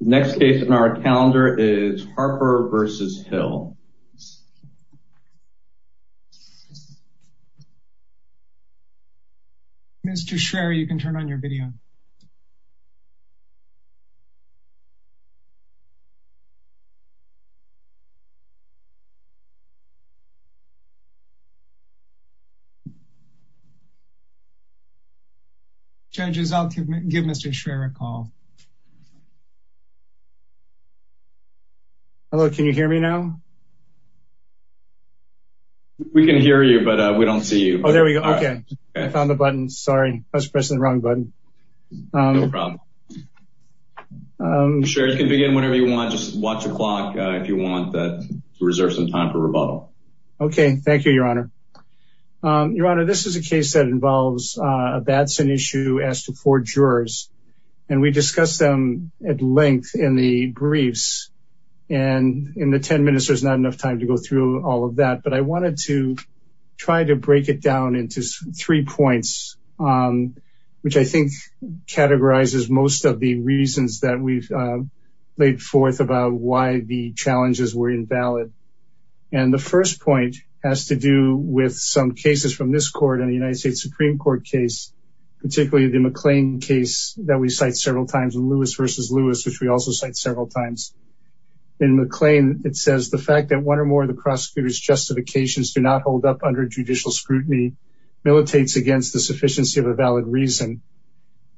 Next case on our calendar is Harper v. Hill. Mr. Schraer, you can turn on your video. Judges, I'll give Mr. Schraer a call. Hello, can you hear me now? We can hear you, but we don't see you. Oh, there we go. Okay. I found the button. Sorry, I was pressing the wrong button. Sure, you can begin whenever you want. Just watch the clock if you want to reserve some time for rebuttal. Okay, thank you, Your Honor. Your Honor, this is a case that involves a bad sin issue as to four jurors. And we discussed them at length in the briefs. And in the 10 minutes, there's not enough time to go through all of that. But I wanted to try to break it down into three points, which I think categorizes most of the reasons that we've laid forth about why the challenges were invalid. And the first point has to do with some cases from this court and the United States Supreme Court case, particularly the McLean case that we cite several times, Lewis v. Lewis, which we also cite several times. In McLean, it says the fact that one or more of the prosecutor's justifications do not hold up under judicial scrutiny, militates against the sufficiency of a valid reason.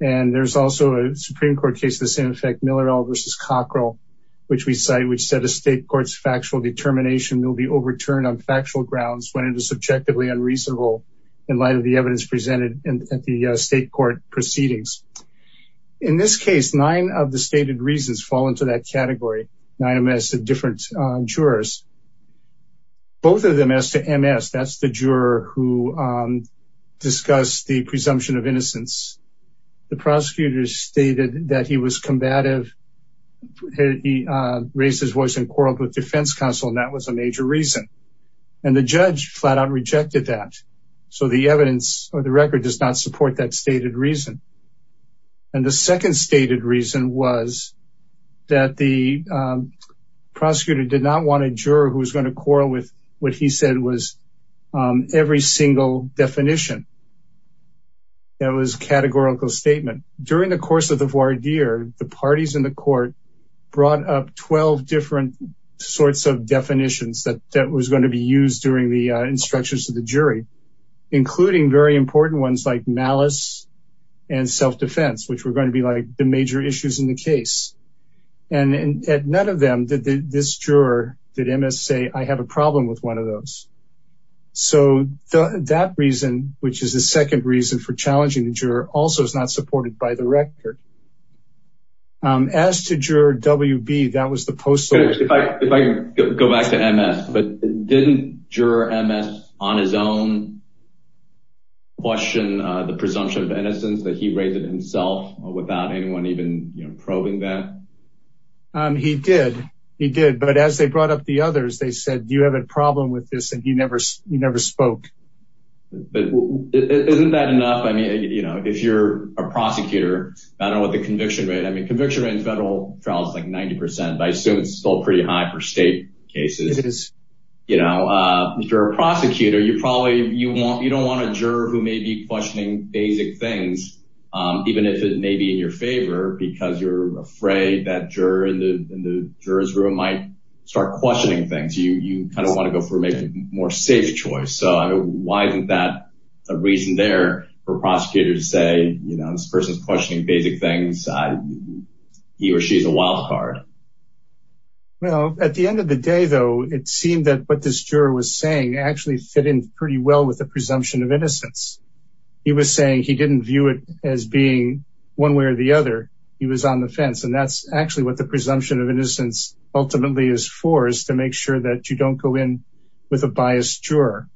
And there's also a Supreme Court case of the same effect, Miller v. Cockrell, which we cite, which said a state court's factual determination will be overturned on factual grounds when it is subjectively unreasonable in light of the evidence presented at the state court proceedings. In this case, nine of the stated reasons fall into that category, nine MS of different jurors. Both of them as to MS, that's the juror who discussed the presumption of innocence. The prosecutor stated that he was combative. He raised his voice and quarreled with defense counsel, and that was a major reason. And the judge flat out rejected that. So the evidence or the record does not support that stated reason. And the second stated reason was that the prosecutor did not want a juror who was going to quarrel with what he said was every single definition. That was a categorical statement. During the course of the voir dire, the parties in the court brought up 12 different sorts of definitions that was going to be used during the instructions of the jury, including very important ones like malice and self-defense, which were going to be like the major issues in the case. And at none of them did this juror, did MS say, I have a problem with one of those. So that reason, which is the second reason for challenging the juror, also is not supported by the record. As to juror WB, that was the post-search. If I go back to MS, but didn't juror MS on his own question the presumption of innocence that he raised himself without anyone even probing that? He did. He did. But as they brought up the others, they said, do you have a problem with this? And he never spoke. But isn't that enough? I mean, you know, if you're a prosecutor, I don't know what the conviction rate, I mean, conviction in federal trials, like 90%, but I assume it's still pretty high for state cases. You know, if you're a prosecutor, you probably you want, you don't want a juror who may be questioning basic things, even if it may be in your favor, because you're afraid that juror in the jurors room might start questioning more safe choice. So why isn't that a reason there for prosecutors to say, you know, this person's questioning basic things. He or she is a wildcard. Well, at the end of the day, though, it seemed that what this juror was saying actually fit in pretty well with the presumption of innocence. He was saying he didn't view it as being one way or the other. He was on the fence. And that's actually what the presumption of innocence ultimately is for, is to make sure that you don't go in with a biased juror.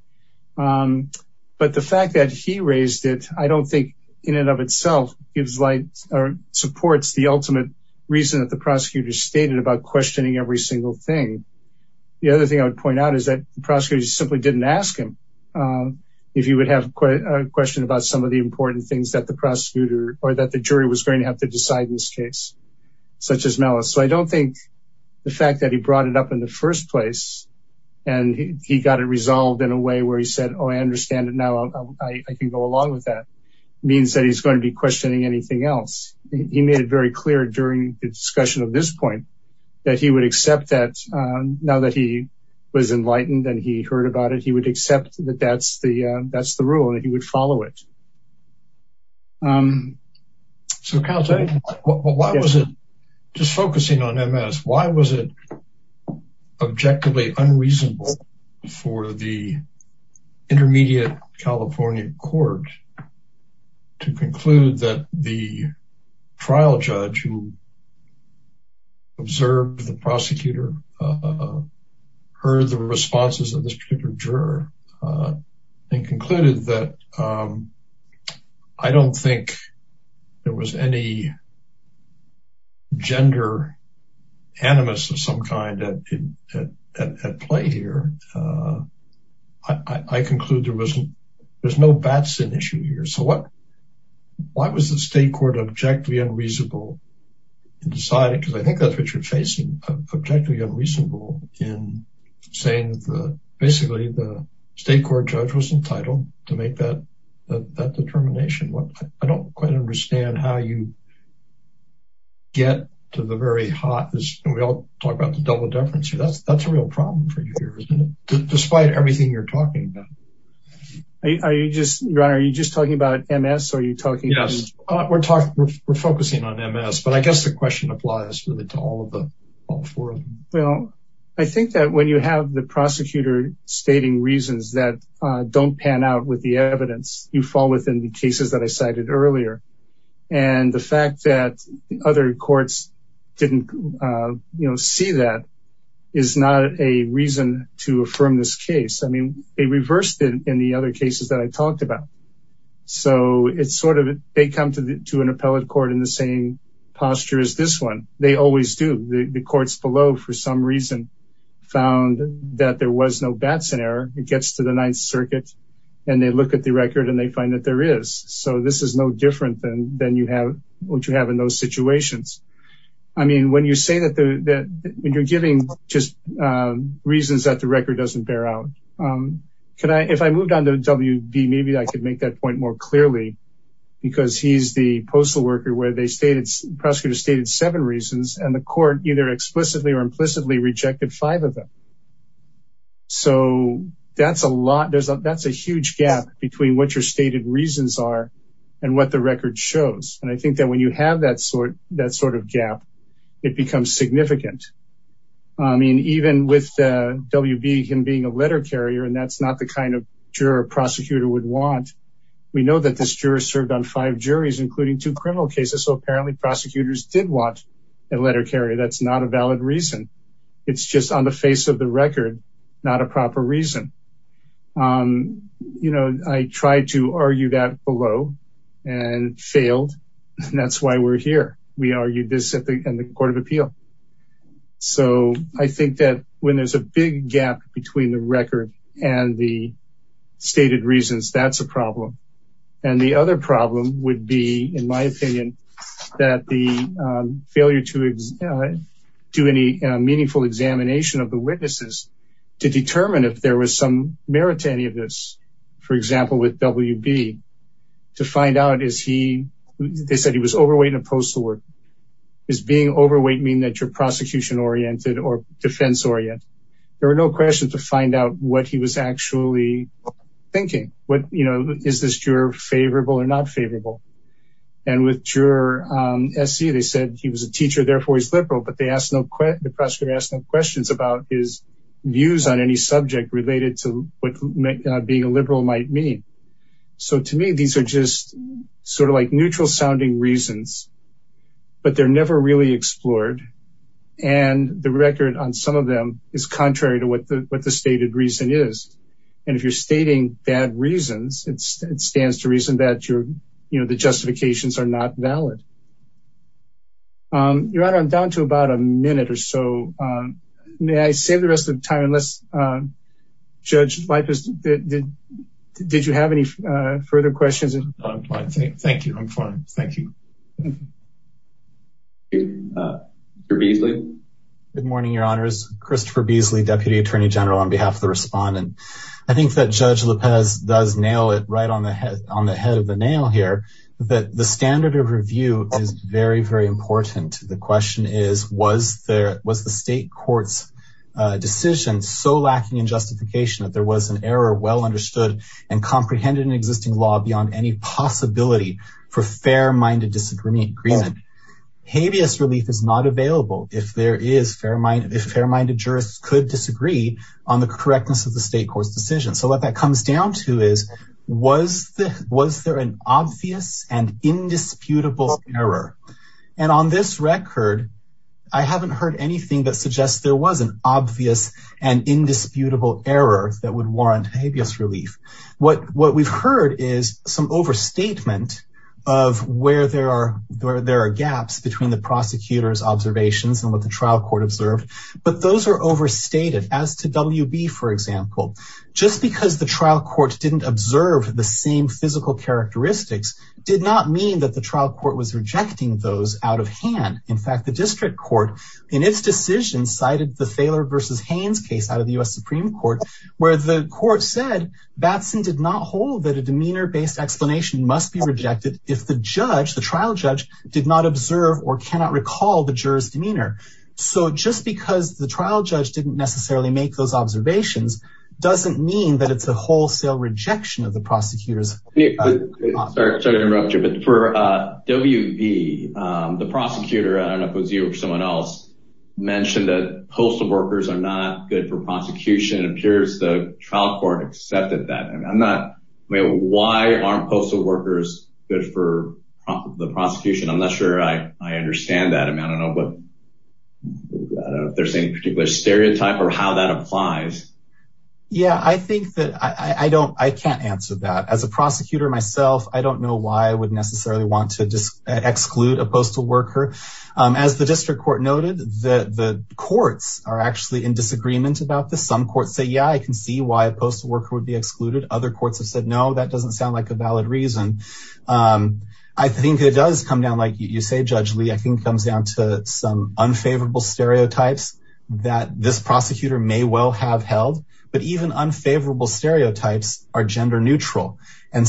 But the fact that he raised it, I don't think, in and of itself, gives light or supports the ultimate reason that the prosecutor stated about questioning every single thing. The other thing I would point out is that prosecutors simply didn't ask him if he would have a question about some of the important things that the prosecutor or that the jury was going to have to decide in this case, such as place. And he got it resolved in a way where he said, Oh, I understand it now. I can go along with that means that he's going to be questioning anything else. He made it very clear during the discussion of this point, that he would accept that. Now that he was enlightened, and he heard about it, he would accept that that's the that's the rule that he would follow it. So, counsel, why was it just focusing on MS? Why was it objectively unreasonable for the intermediate California court to conclude that the trial judge who served the prosecutor heard the responses of this particular juror and concluded that I don't think there was any gender animus of some kind at play here. I conclude there wasn't. There's no Batson issue here. So what? Why was the state court objectively unreasonable and decided because I think that's what you're facing objectively unreasonable in saying that the basically the state court judge was entitled to make that that determination what I don't quite understand how you get to the very hot as we all talk about the double difference. That's that's a real problem for you here. Despite everything you're talking about. Are you just are you just talking about MS? Are you talking? Yes, we're talking. We're focusing on MS. But I guess the question applies really to all of them. All four of them. Well, I think that when you have the prosecutor stating reasons that don't pan out with the evidence, you fall within the cases that I cited earlier. And the fact that other courts didn't, you know, see that is not a reason to affirm this case. I mean, a reversed in the other cases that I talked about. So it's sort of they come to an appellate court in the same posture as this one. They always do the courts below for some reason, found that there was no Batson error, it gets to the Ninth Circuit. And they look at the record and they find that there is so this is no different than then you have what you have in those situations. I mean, when you say that, that you're giving just reasons that the record doesn't bear out. Can I if I moved on to WB, maybe I could make that point more clearly. Because he's the postal worker where they stated prosecutor stated seven reasons and the court either explicitly or implicitly rejected five of them. So that's a lot. There's a that's a huge gap between what your stated reasons are, and what the record shows. And I think that when you have that sort of that sort of gap, it becomes significant. I mean, even with WB him being a letter carrier, and that's not the kind of juror prosecutor would want. We know that this juror served on five juries, including two criminal cases. So apparently, prosecutors did want a letter carrier. That's not a valid reason. It's just on the face of the record, not a proper reason. You know, I tried to argue that below and failed. And that's why we're here. We argued this at the Court of Appeal. So I think that when there's a big gap between the record and the stated reasons, that's a problem. And the other problem would be, in my opinion, that the failure to do any meaningful examination of the witnesses to determine if there was some merit to any of this, for example, with WB, to find out is he, they said he was overweight and a postal worker. Is being overweight mean that you're prosecution oriented or defense oriented? There are no questions to find out what he was actually thinking. What, you know, is this juror favorable or not favorable? And with juror SC, they said he was a teacher, therefore he's liberal, but they asked no questions, the prosecutor asked no questions about his views on any subject related to what being a liberal might mean. So to me, these are just sort of like neutral sounding reasons. But they're never really explored. And the record on some of them is contrary to what the, what the stated reason is. And if you're stating bad reasons, it's, it stands to reason that you're, you know, the justifications are not valid. Your Honor, I'm down to about a minute or so. May I save the rest of the time? Unless, Judge Leipitz, did you have any further questions? Thank you. I'm fine. Thank you. Good morning, Your Honors. Christopher Beasley, Deputy Attorney General on behalf of the respondent. I think that Judge Leipitz does nail it right on the head, on the head of the nail here that the standard of review is very, very important. The question is, was there, was the state court's decision so lacking in justification that there was an error well understood and comprehended in existing law beyond any possibility for fair minded disagreement? Habeas relief is not available if there is fair minded, if fair minded jurists could disagree on the correctness of the state court's decision. So what that comes down to is, was the, was there an obvious and indisputable error? And on this record, I haven't heard anything that suggests there was an obvious and indisputable error that would warrant habeas relief. What, what we've heard is some overstatement of where there are, there are gaps between the prosecutor's observations and what the trial court observed. But those are overstated as to WB, for example, just because the trial court didn't observe the same physical characteristics did not mean that the trial court was rejecting those out of hand. In fact, the district court in its decision cited the Thaler versus Haynes case out of the U.S. Supreme Court, where the court said Batson did not hold that a demeanor based explanation must be rejected if the judge, the trial judge did not observe or cannot recall the jurors demeanor. So just because the trial judge didn't necessarily make those observations doesn't mean that it's a wholesale rejection of the prosecutors. Sorry to interrupt you, but for WB, the prosecutor, I don't know if it was you or someone else mentioned that postal workers are not good for prosecution. It appears the trial court accepted that. And I'm not, why aren't postal workers good for the prosecution? I'm not sure I understand that. I mean, I don't know, but I don't know if there's any particular stereotype or how that applies. Yeah, I think that I don't, I can't answer that. As a prosecutor myself, I don't know why I would necessarily want to exclude a postal worker. As the district court noted, the courts are actually in disagreement about this. Some courts say, yeah, I can see why a postal worker would be excluded. Other courts have said, no, that doesn't sound like a valid reason. I think it does come down, like you say, Judge Lee, I think it comes down to some unfavorable stereotypes that this prosecutor may well have held, but even unfavorable stereotypes are gender neutral. They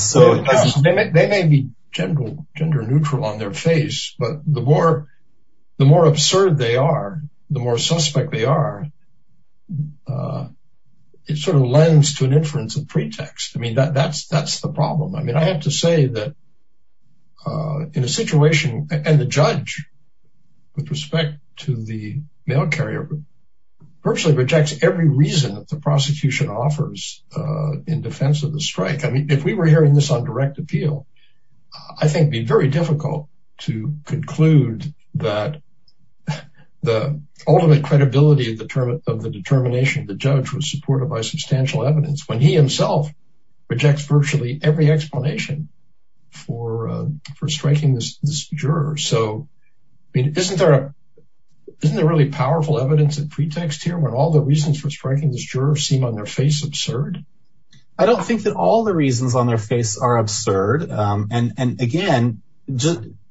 may be gender neutral on their face, but the more absurd they are, the more suspect they are. It sort of lends to an inference of pretext. I mean, that's the problem. I mean, I have to say that in a situation, and the judge, with respect to the mail carrier, virtually rejects every reason that the prosecution offers in defense of the strike. If we were hearing this on direct appeal, I think it would be very difficult to conclude that the ultimate credibility of the determination of the judge was supported by substantial evidence when he himself rejects virtually every explanation for striking this juror. So, I mean, isn't there really powerful evidence and pretext here when all the reasons for striking this juror seem on their face absurd? I don't think that all the reasons on their face are absurd. And again,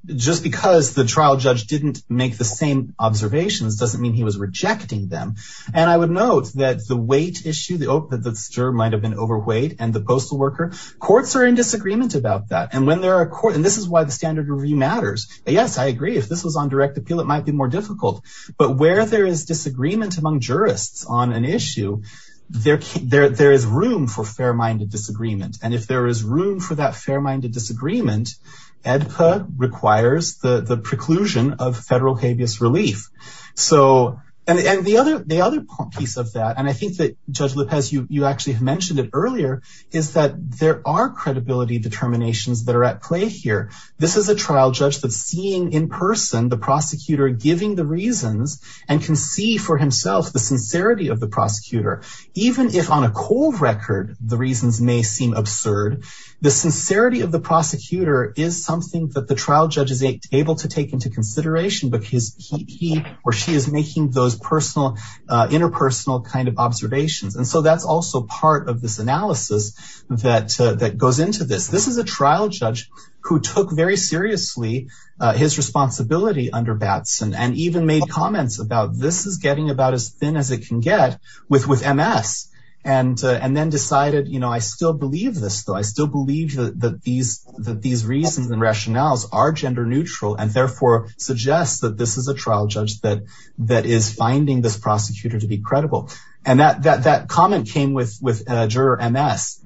just because the trial judge didn't make the same observations doesn't mean he was rejecting them. And I would note that the weight issue, that this juror might have been overweight, and the postal worker, courts are in disagreement about that. And this is why the standard review matters. Yes, I agree. If this was on direct appeal, it might be more difficult. But where there is disagreement among jurists on an issue, there is room for fair-minded disagreement. And if there is room for that fair-minded disagreement, AEDPA requires the preclusion of federal habeas relief. And the other piece of that, and I think that Judge Lopez, you actually have mentioned it earlier, is that there are credibility determinations that are at play here. This is a trial judge that's seeing in person the prosecutor giving the reasons and can see for himself the sincerity of the prosecutor. Even if on a cold record the reasons may seem absurd, the sincerity of the prosecutor is something that the trial judge is able to take into consideration because he or she is making those interpersonal kind of observations. And so that's also part of this analysis that goes into this. This is a trial judge who took very seriously his responsibility under Batson and even made comments about this is getting about as thin as it can get with MS. And then decided, you know, I still believe this, though. I still believe that these reasons and rationales are gender neutral and therefore suggest that this is a trial judge that is finding this prosecutor to be credible. And that comment came with Juror MS,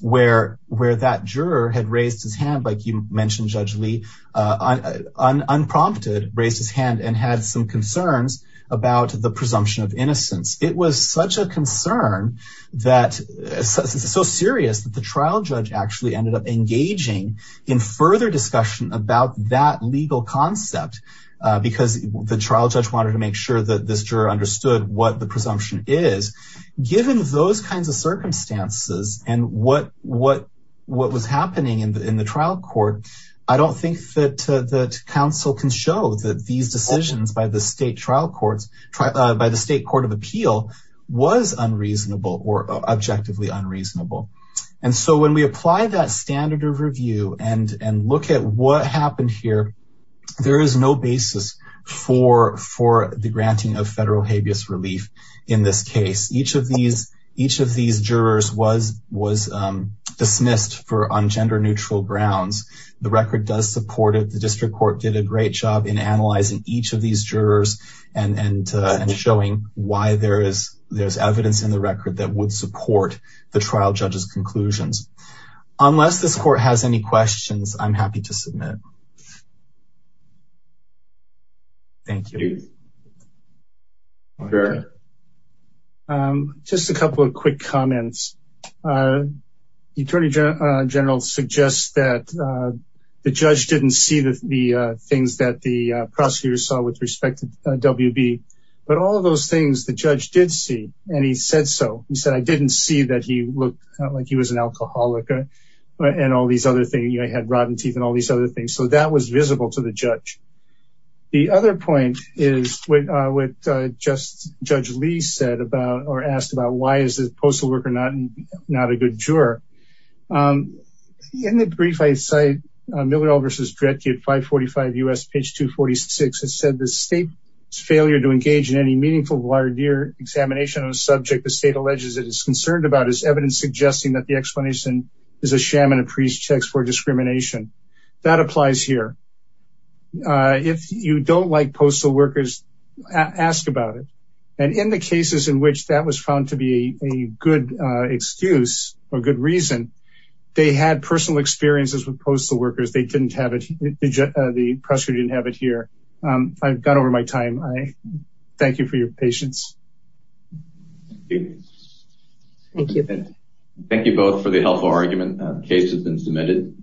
where that juror had raised his hand, like you mentioned, Judge Lee, unprompted raised his hand and had some concerns about the presumption of innocence. It was such a concern that it's so serious that the trial judge actually ended up engaging in further discussion about that legal concept because the trial judge wanted to make sure that this juror understood what the presumption is. Given those kinds of circumstances and what what what was happening in the trial court, I don't think that the council can show that these decisions by the state trial courts by the state court of appeal was unreasonable or objectively unreasonable. And so when we apply that standard of review and and look at what happened here, there is no basis for for the granting of federal habeas relief. In this case, each of these each of these jurors was was dismissed for on gender neutral grounds. The record does support it. The district court did a great job in analyzing each of these jurors and showing why there is there's evidence in the record that would support the trial judge's conclusions. Unless this court has any questions, I'm happy to submit. Just a couple of quick comments. Attorney General suggests that the judge didn't see the things that the prosecutors saw with respect to W.B. But all of those things the judge did see. And he said so. He said, I didn't see that he looked like he was an alcoholic and all these other things. So that was visible to the judge. The other point is with just Judge Lee said about or asked about why is this postal worker not not a good juror? In the brief, I cite Miller versus Dredge at 545 U.S. page 246. It said the state's failure to engage in any meaningful voir dire examination on a subject the state alleges it is concerned about is evidence suggesting that the explanation is a sham and a priest checks for discrimination. That applies here. If you don't like postal workers, ask about it. And in the cases in which that was found to be a good excuse or good reason, they had personal experiences with postal workers. They didn't have it. The pressure didn't have it here. I've got over my time. I thank you for your patience. Thank you. Thank you both for the helpful argument. Case has been submitted.